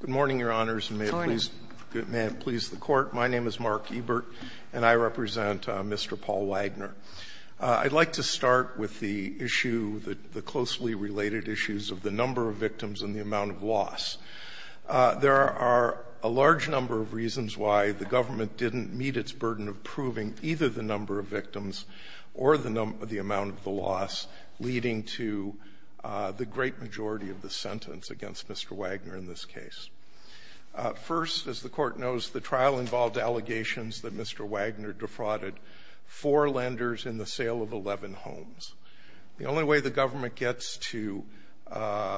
Good morning, Your Honors, and may it please the Court, my name is Mark Ebert, and I represent Mr. Paul Wagner. I'd like to start with the issue, the closely related issues of the number of victims and the amount of loss. There are a large number of reasons why the government didn't meet its burden of proving either the number of victims or the amount of the loss, leading to the great majority of the sentence against Mr. Wagner in this case. First, as the Court knows, the trial involved allegations that Mr. Wagner defrauded four lenders in the sale of 11 homes. The only way the government gets to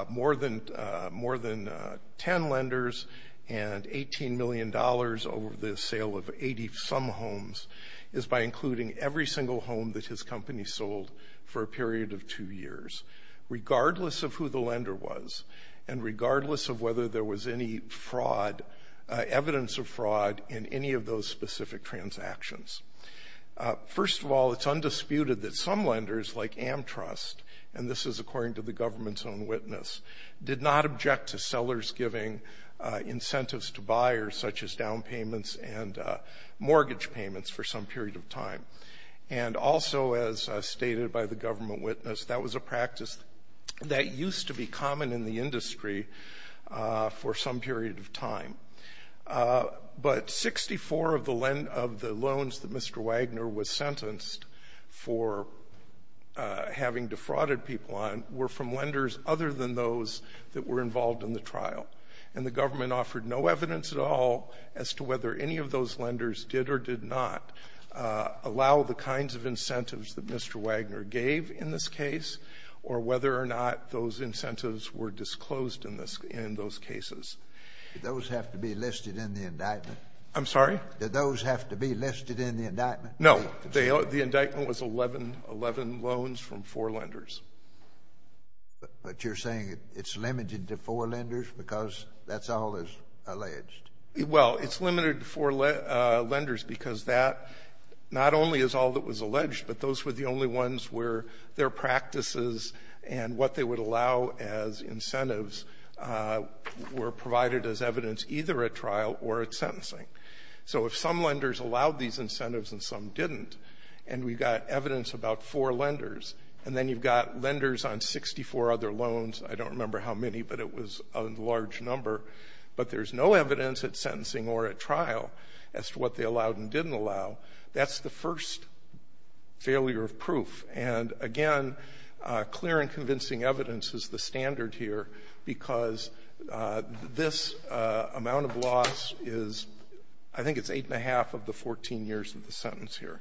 more than 10 lenders and $18 million over the sale of 80-some homes is by including every single home that his company sold for a period of two years, regardless of who the lender was and regardless of whether there was any evidence of fraud in any of those specific transactions. First of all, it's undisputed that some lenders, like AmTrust, and this is according to the government's own witness, did not object to sellers giving incentives to buyers, such as down payments and mortgage payments, for some period of time. And also, as stated by the government witness, that was a practice that used to be common in the industry for some period of time. But 64 of the loans that Mr. Wagner was sentenced for having defrauded people on were from lenders other than those that were involved in the trial. And the government offered no evidence at all as to whether any of those lenders did or did not allow the kinds of incentives that Mr. Wagner gave in this case or whether or not those incentives were disclosed in those cases. Did those have to be listed in the indictment? I'm sorry? Did those have to be listed in the indictment? No. The indictment was 11 loans from four lenders. But you're saying it's limited to four lenders because that's all is alleged? Well, it's limited to four lenders because that not only is all that was alleged, but those were the only ones where their practices and what they would allow as incentives were provided as evidence either at trial or at sentencing. So if some lenders allowed these incentives and some didn't, and we've got evidence about four lenders, and then you've got lenders on 64 other loans, I don't remember how many, but it was a large number, but there's no evidence at sentencing or at trial as to what they allowed and didn't allow, that's the first failure of proof. And, again, clear and convincing evidence is the standard here because this amount of loss is, I think it's eight and a half of the 14 years of the sentence here.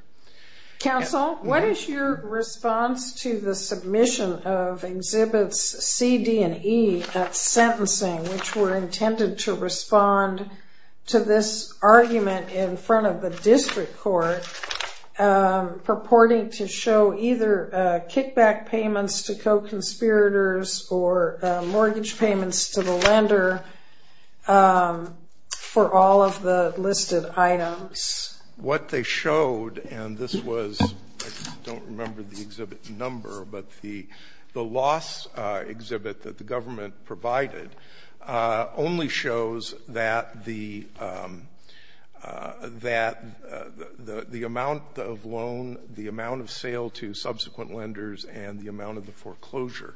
Counsel, what is your response to the submission of Exhibits C, D, and E at sentencing, which were intended to respond to this argument in front of the district court purporting to show either kickback payments to co-conspirators or mortgage payments to the lender for all of the listed items? What they showed, and this was, I don't remember the exhibit number, but the loss exhibit that the government provided only shows that the amount of loan, the amount of sale to subsequent lenders, and the amount of the foreclosure.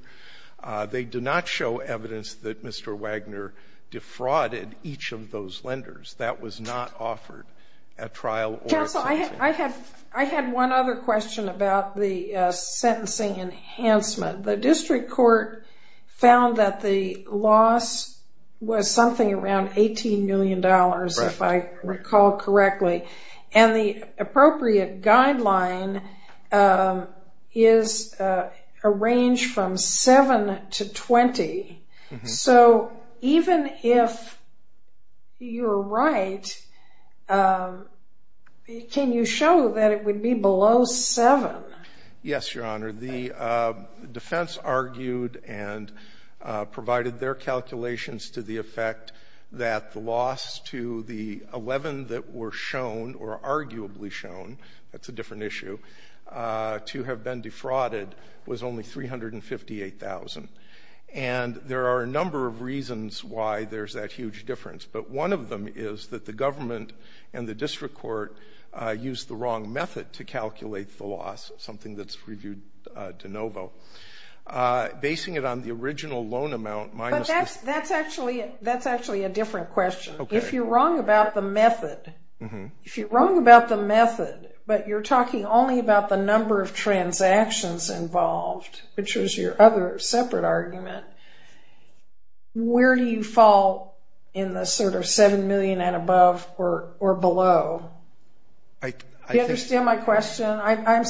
They do not show evidence that Mr. Wagner defrauded each of those lenders. That was not offered at trial or at sentencing. I had one other question about the sentencing enhancement. The district court found that the loss was something around $18 million, if I recall correctly, and the appropriate guideline is a range from 7 to 20. So even if you're right, can you show that it would be below 7? Yes, Your Honor. The defense argued and provided their calculations to the effect that the loss to the 11 that were shown or arguably shown, that's a different issue, to have been defrauded was only $358,000. And there are a number of reasons why there's that huge difference, but one of them is that the government and the district court used the wrong method to calculate the loss, something that's reviewed de novo. Basing it on the original loan amount minus the- But that's actually a different question. If you're wrong about the method, if you're wrong about the method, but you're talking only about the number of transactions involved, which was your other separate argument, where do you fall in the sort of $7 million and above or below? Do you understand my question? I'm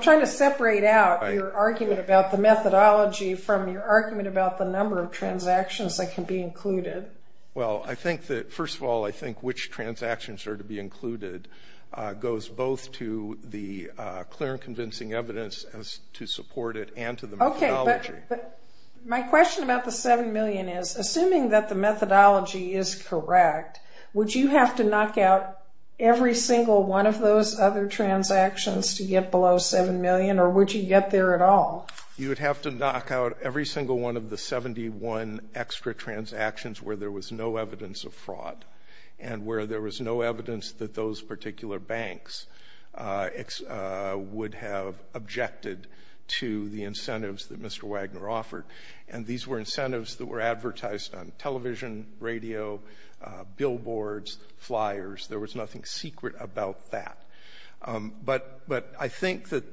trying to separate out your argument about the methodology from your argument about the number of transactions that can be included. Well, I think that, first of all, I think which transactions are to be included goes both to the clear and convincing evidence as to support it and to the methodology. Okay, but my question about the $7 million is, assuming that the methodology is correct, would you have to knock out every single one of those other transactions to get below $7 million, or would you get there at all? You would have to knock out every single one of the 71 extra transactions where there was no evidence of fraud and where there was no evidence that those particular banks would have objected to the incentives that Mr. Wagner offered. And these were incentives that were advertised on television, radio, billboards, flyers. There was nothing secret about that. But I think that,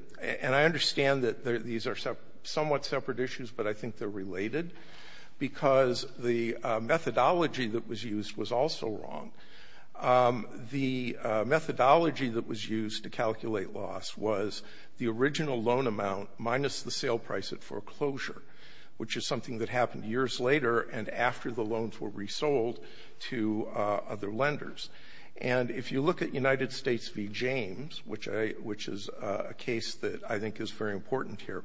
and I understand that these are somewhat separate issues, but I think they're related because the methodology that was used was also wrong. The methodology that was used to calculate loss was the original loan amount minus the sale price at foreclosure, which is something that happened years later and after the loans were resold to other lenders. And if you look at United States v. James, which is a case that I think is very important here,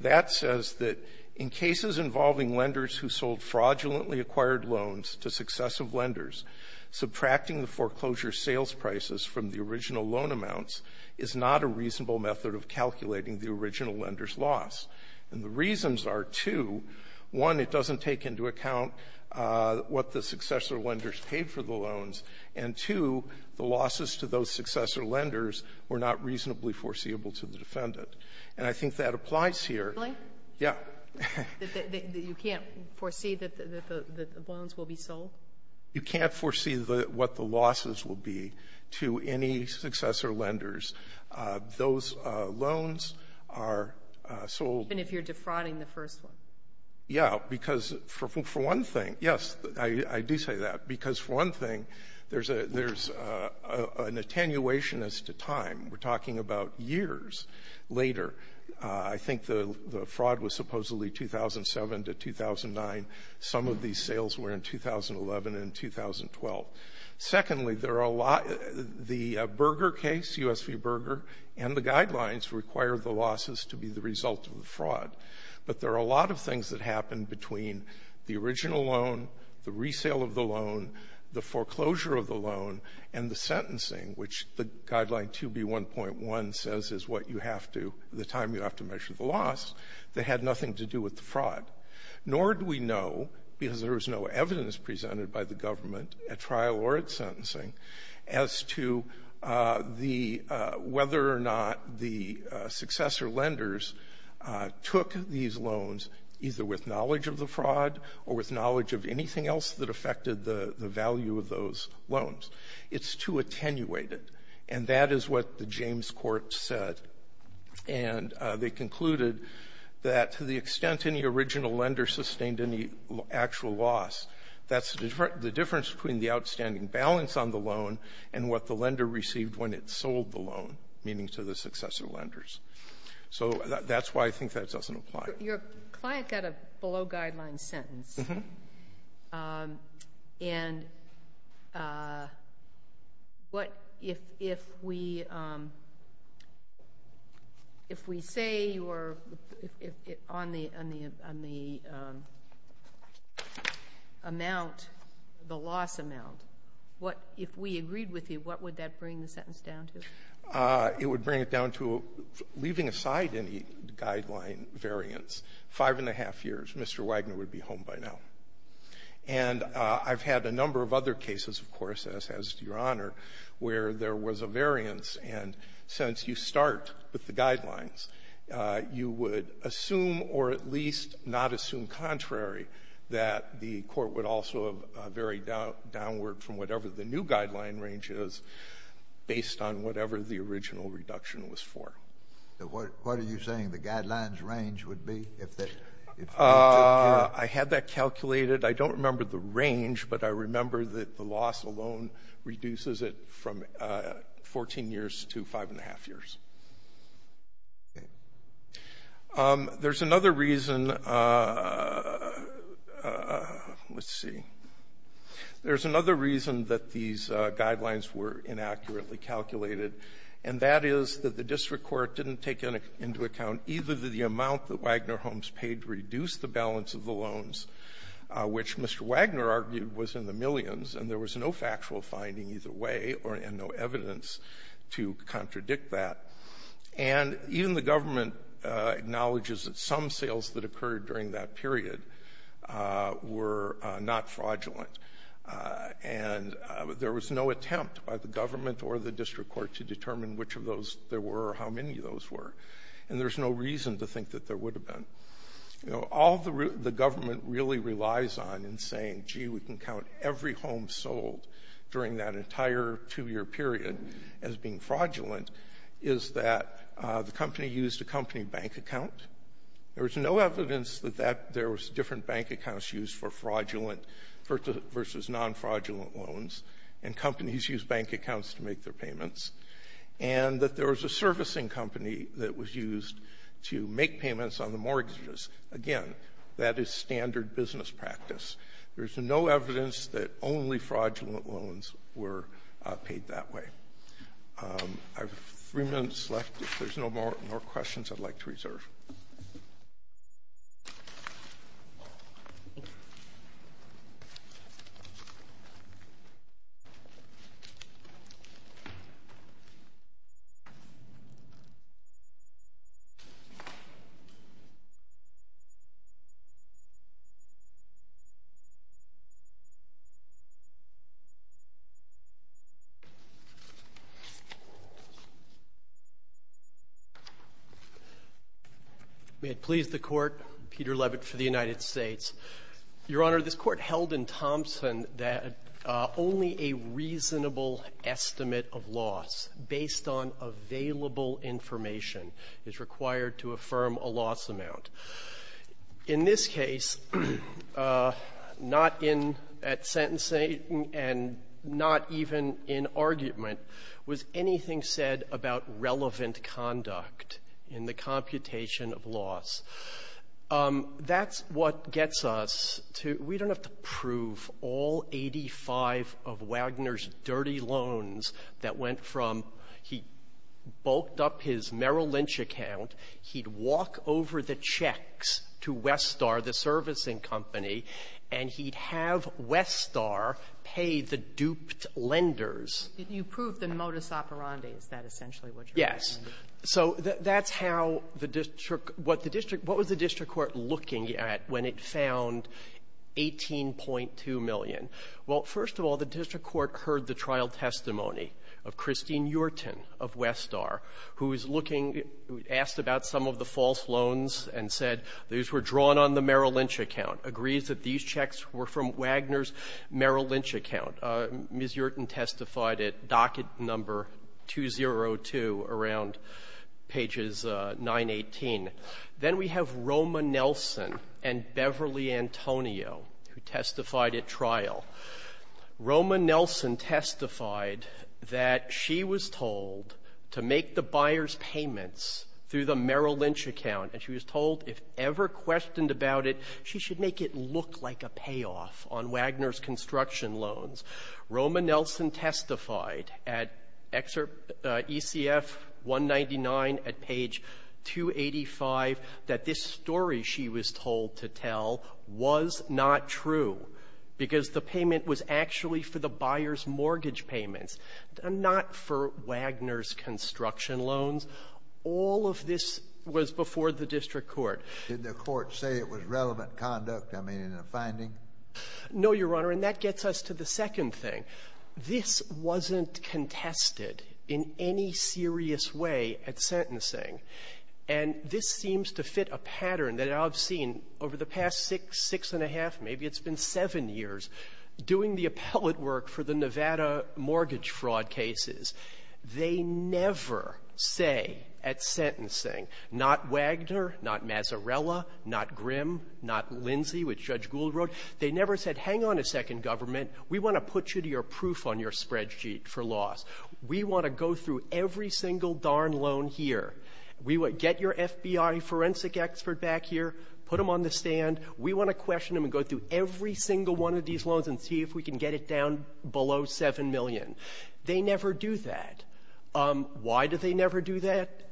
that says that in cases involving lenders who sold fraudulently acquired loans to successive lenders, subtracting the foreclosure sales prices from the original loan amounts is not a reasonable method of calculating the original lender's loss. And the reasons are two. One, it doesn't take into account what the successor lenders paid for the loans. And, two, the losses to those successor lenders were not reasonably foreseeable to the defendant. And I think that applies here. Really? Yeah. You can't foresee that the loans will be sold? You can't foresee what the losses will be to any successor lenders. Those loans are sold. Even if you're defrauding the first one? Yeah, because for one thing, yes, I do say that. Because for one thing, there's an attenuation as to time. We're talking about years later. I think the fraud was supposedly 2007 to 2009. Some of these sales were in 2011 and 2012. Secondly, the Berger case, U.S. v. Berger, and the guidelines require the losses to be the result of the fraud. But there are a lot of things that happened between the original loan, the resale of the loan, the foreclosure of the loan, and the sentencing, which the Guideline 2B1.1 says is what you have to, the time you have to measure the loss, that had nothing to do with the fraud. Nor do we know, because there was no evidence presented by the government at trial or at sentencing, as to the — whether or not the successor lenders took these loans either with knowledge of the fraud or with knowledge of anything else that affected the value of those loans. It's too attenuated. And that is what the James Court said. And they concluded that to the extent any original lender sustained any actual loss, that's the difference between the outstanding balance on the loan and what the lender received when it sold the loan, meaning to the successor lenders. So that's why I think that doesn't apply. Your client got a below-guideline sentence. Mm-hmm. And what if we say you're on the amount, the loss amount, what if we agreed with you, what would that bring the sentence down to? It would bring it down to leaving aside any guideline variance. Five and a half years, Mr. Wagner would be home by now. And I've had a number of other cases, of course, as has Your Honor, where there was a variance. And since you start with the guidelines, you would assume or at least not assume contrary that the court would also have varied downward from whatever the new guideline range is based on whatever the original reduction was for. What are you saying the guidelines range would be? I had that calculated. I don't remember the range, but I remember that the loss alone reduces it from 14 years to five and a half years. There's another reason. Let's see. There's another reason that these guidelines were inaccurately calculated, and that is that the district court didn't take into account either the amount that Wagner Holmes paid to reduce the balance of the loans, which Mr. Wagner argued was in the millions, and there was no factual finding either way or no evidence to contradict that. And even the government acknowledges that some sales that occurred during that period were not fraudulent. And there was no attempt by the government or the district court to determine which of those there were or how many of those were. And there's no reason to think that there would have been. All the government really relies on in saying, gee, we can count every home sold during that entire two-year period as being fraudulent, is that the company used a company bank account. There was no evidence that there was different bank accounts used for fraudulent versus non-fraudulent loans, and companies use bank accounts to make their payments, and that there was a servicing company that was used to make payments on the mortgages. Again, that is standard business practice. There's no evidence that only fraudulent loans were paid that way. I have three minutes left. If there's no more questions, I'd like to reserve. May it please the Court. Peter Levitt for the United States. Your Honor, this Court held in Thompson that only a reasonable estimate of loss based on available information is required to affirm a loss amount. In this case, not in at sentencing and not even in argument was anything said about relevant conduct in the computation of loss. That's what gets us to we don't have to prove all 85 of Wagner's dirty loans that went from he bulked up his Merrill Lynch account, he'd walk over the checks to Westar, the servicing company, and he'd have Westar pay the duped lenders. You proved the modus operandi. Is that essentially what you're saying? Yes. So that's how the district what the district what was the district court looking at when it found 18.2 million? Well, first of all, the district court heard the trial testimony of Christine Yurton of Westar, who is looking asked about some of the false testified at docket number 202 around pages 918. Then we have Roma Nelson and Beverly Antonio, who testified at trial. Roma Nelson testified that she was told to make the buyer's payments through the Merrill Lynch account, and she was told if ever questioned about it, she should make it look like a payoff on Wagner's construction loans. Roma Nelson testified at ECF 199 at page 285 that this story she was told to tell was not true because the payment was actually for the buyer's mortgage payments, not for Wagner's construction loans. All of this was before the district court. Did the court say it was relevant conduct, I mean, in the finding? No, Your Honor, and that gets us to the second thing. This wasn't contested in any serious way at sentencing. And this seems to fit a pattern that I've seen over the past six, six and a half, maybe it's been seven years, doing the appellate work for the Nevada mortgage fraud cases. They never say at sentencing, not Wagner, not Mazarella, not Grimm, not Lindsay, which Judge Gould wrote, they never said, hang on a second, government, we want to put you to your proof on your spreadsheet for loss. We want to go through every single darn loan here. We want to get your FBI forensic expert back here, put him on the stand. We want to question him and go through every single one of these loans and see if we can get it down below 7 million. They never do that. Why do they never do that?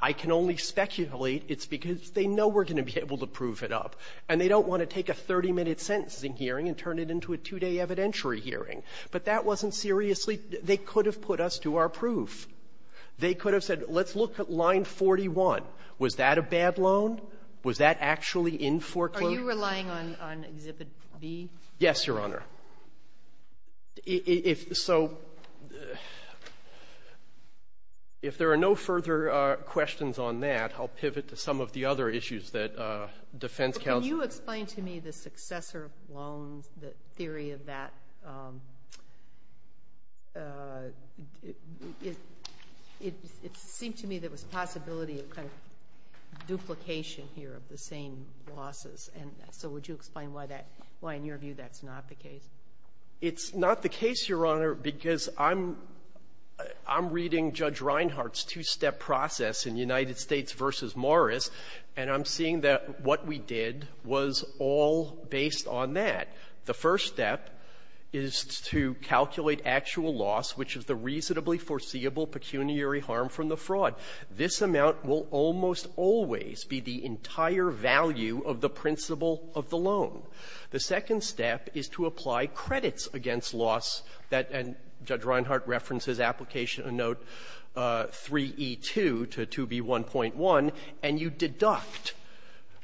I can only speculate it's because they know we're going to be able to prove it up, and they don't want to take a 30-minute sentencing hearing and turn it into a two-day evidentiary hearing. But that wasn't seriously they could have put us to our proof. They could have said, let's look at line 41. Was that a bad loan? Was that actually in foreclosure? Are you relying on Exhibit B? Yes, Your Honor. So if there are no further questions on that, I'll pivot to some of the other issues that defense counsel— Could you explain to me the successor loans, the theory of that? It seemed to me there was a possibility of kind of duplication here of the same losses, and so would you explain why that — why, in your view, that's not the case? It's not the case, Your Honor, because I'm — I'm reading Judge Reinhart's two-step process in United States v. Morris, and I'm seeing that what we did was all based on that. The first step is to calculate actual loss, which is the reasonably foreseeable pecuniary harm from the fraud. This amount will almost always be the entire value of the principle of the loan. The second step is to apply credits against loss. That — and Judge Reinhart references application in Note 3e2 to 2b1.1, and you deduct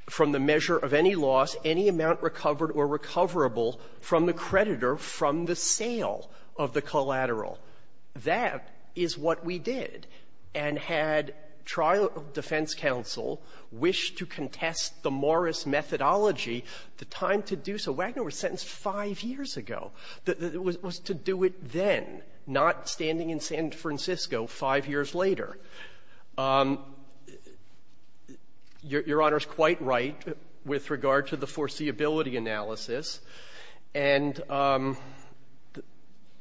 from the measure of any loss any amount recovered or recoverable from the creditor from the sale of the collateral. That is what we did. And had trial defense counsel wish to contest the Morris methodology, the time to do so — Wagner was sentenced five years ago. It was to do it then, not standing in San Francisco five years later. Your Honor is quite right with regard to the foreseeability analysis. And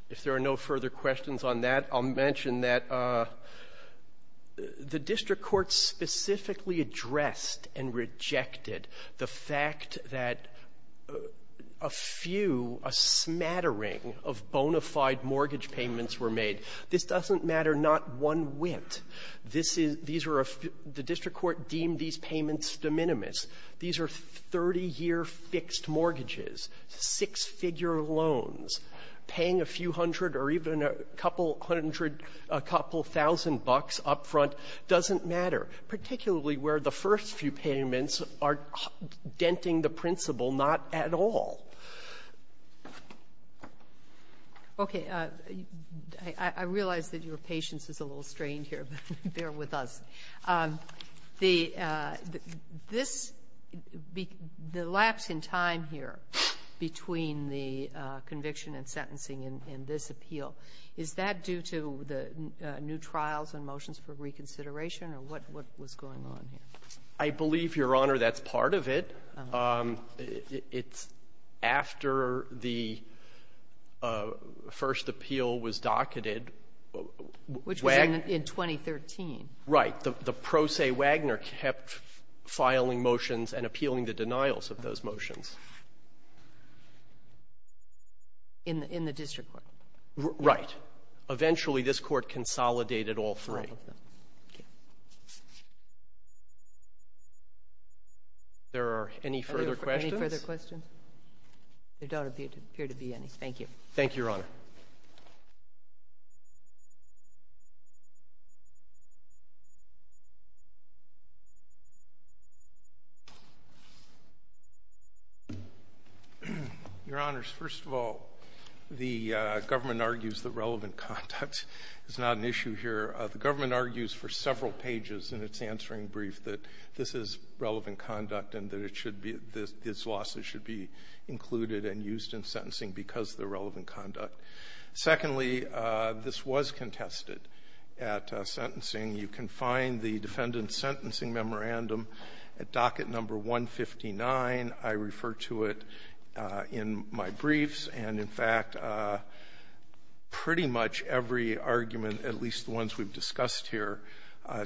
if there are no further questions on that, I'll mention that in the brief. The district court specifically addressed and rejected the fact that a few, a smattering of bona fide mortgage payments were made. This doesn't matter not one whit. This is — these are a — the district court deemed these payments de minimis. These are 30-year fixed mortgages, six-figure loans, paying a few hundred or even a couple hundred — a couple thousand dollars up front. Doesn't matter, particularly where the first few payments are denting the principle not at all. Okay. I realize that your patience is a little strained here, but bear with us. The — this — the lapse in time here between the conviction and sentencing in this appeal, is that due to the new trials and motions for reconsideration or what was going on here? I believe, Your Honor, that's part of it. It's after the first appeal was docketed. Which was in 2013. Right. The pro se Wagner kept filing motions and appealing the denials of those motions. In the — in the district court. Right. Eventually, this court consolidated all three. All of them. Thank you. There are any further questions? Are there any further questions? There don't appear to be any. Thank you. Thank you, Your Honor. Your Honors, first of all, the government argues that relevant conduct is not an issue here. The government argues for several pages in its answering brief that this is relevant conduct and that it should be — this loss should be included and used in sentencing because of the relevant conduct. Secondly, this was contested at sentencing. You can find the defendant's sentencing memorandum at docket number 159. I refer to it in my briefs. And in fact, pretty much every argument, at least the ones we've discussed here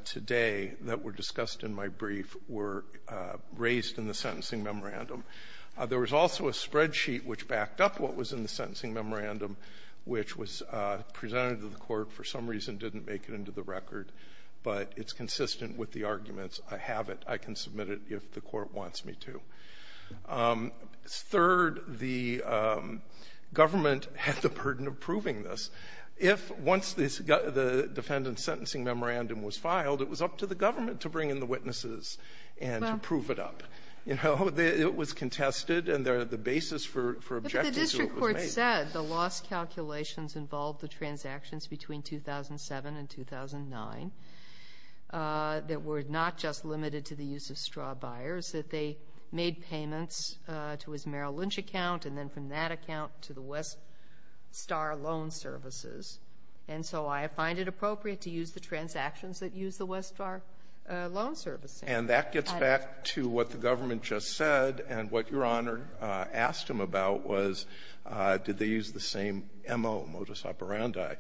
today that were discussed in my brief, were raised in the sentencing memorandum. There was also a spreadsheet which backed up what was in the sentencing memorandum, which was presented to the court, for some reason didn't make it into the record. But it's consistent with the arguments. I have it. I can submit it if the court wants me to. Third, the government had the burden of proving this. If once this got — the defendant's sentencing memorandum was filed, it was up to the government to bring in the witnesses and to prove it up. You know, it was contested, and the basis for objecting to it was made. But as I said, the loss calculations involved the transactions between 2007 and 2009 that were not just limited to the use of straw buyers, that they made payments to his Merrill Lynch account, and then from that account to the Weststar Loan Services. And so I find it appropriate to use the transactions that use the Weststar Loan Services. And that gets back to what the government just said, and what Your Honor asked him about was, did they use the same M.O., modus operandi?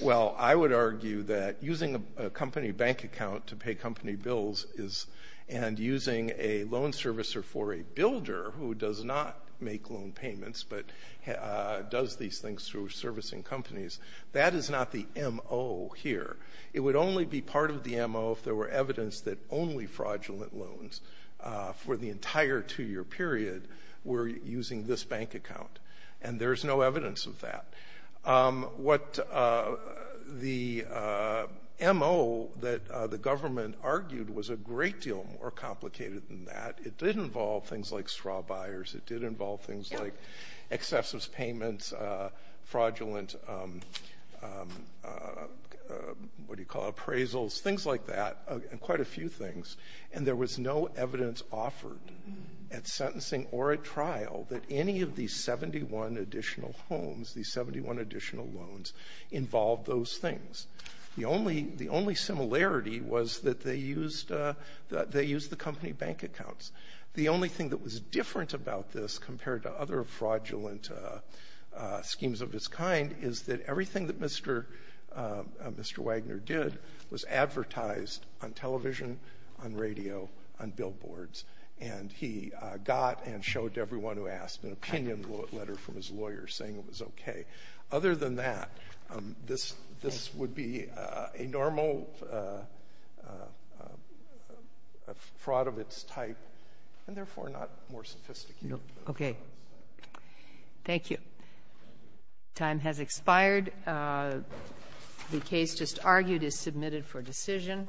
Well, I would argue that using a company bank account to pay company bills is — and using a loan servicer for a builder who does not make loan payments, but does these things through servicing companies, that is not the M.O. here. It would only be part of the M.O. if there were evidence that only fraudulent loans for the entire two-year period were using this bank account. And there is no evidence of that. What the M.O. that the government argued was a great deal more complicated than that. It did involve things like straw buyers. It did involve things like excessive payments, fraudulent — what do you call it — appraisals, things like that, and quite a few things. And there was no evidence offered at sentencing or at trial that any of these 71 additional homes, these 71 additional loans, involved those things. The only — the only similarity was that they used — they used the company bank accounts. The only thing that was different about this compared to other fraudulent schemes of this kind is that everything that Mr. — Mr. Wagner did was advertised on television, on radio, on billboards. And he got and showed to everyone who asked an opinion letter from his lawyer saying it was okay. Other than that, this would be a normal fraud of its type, and therefore not more sophisticated than that. Thank you. Time has expired. The case just argued is submitted for decision.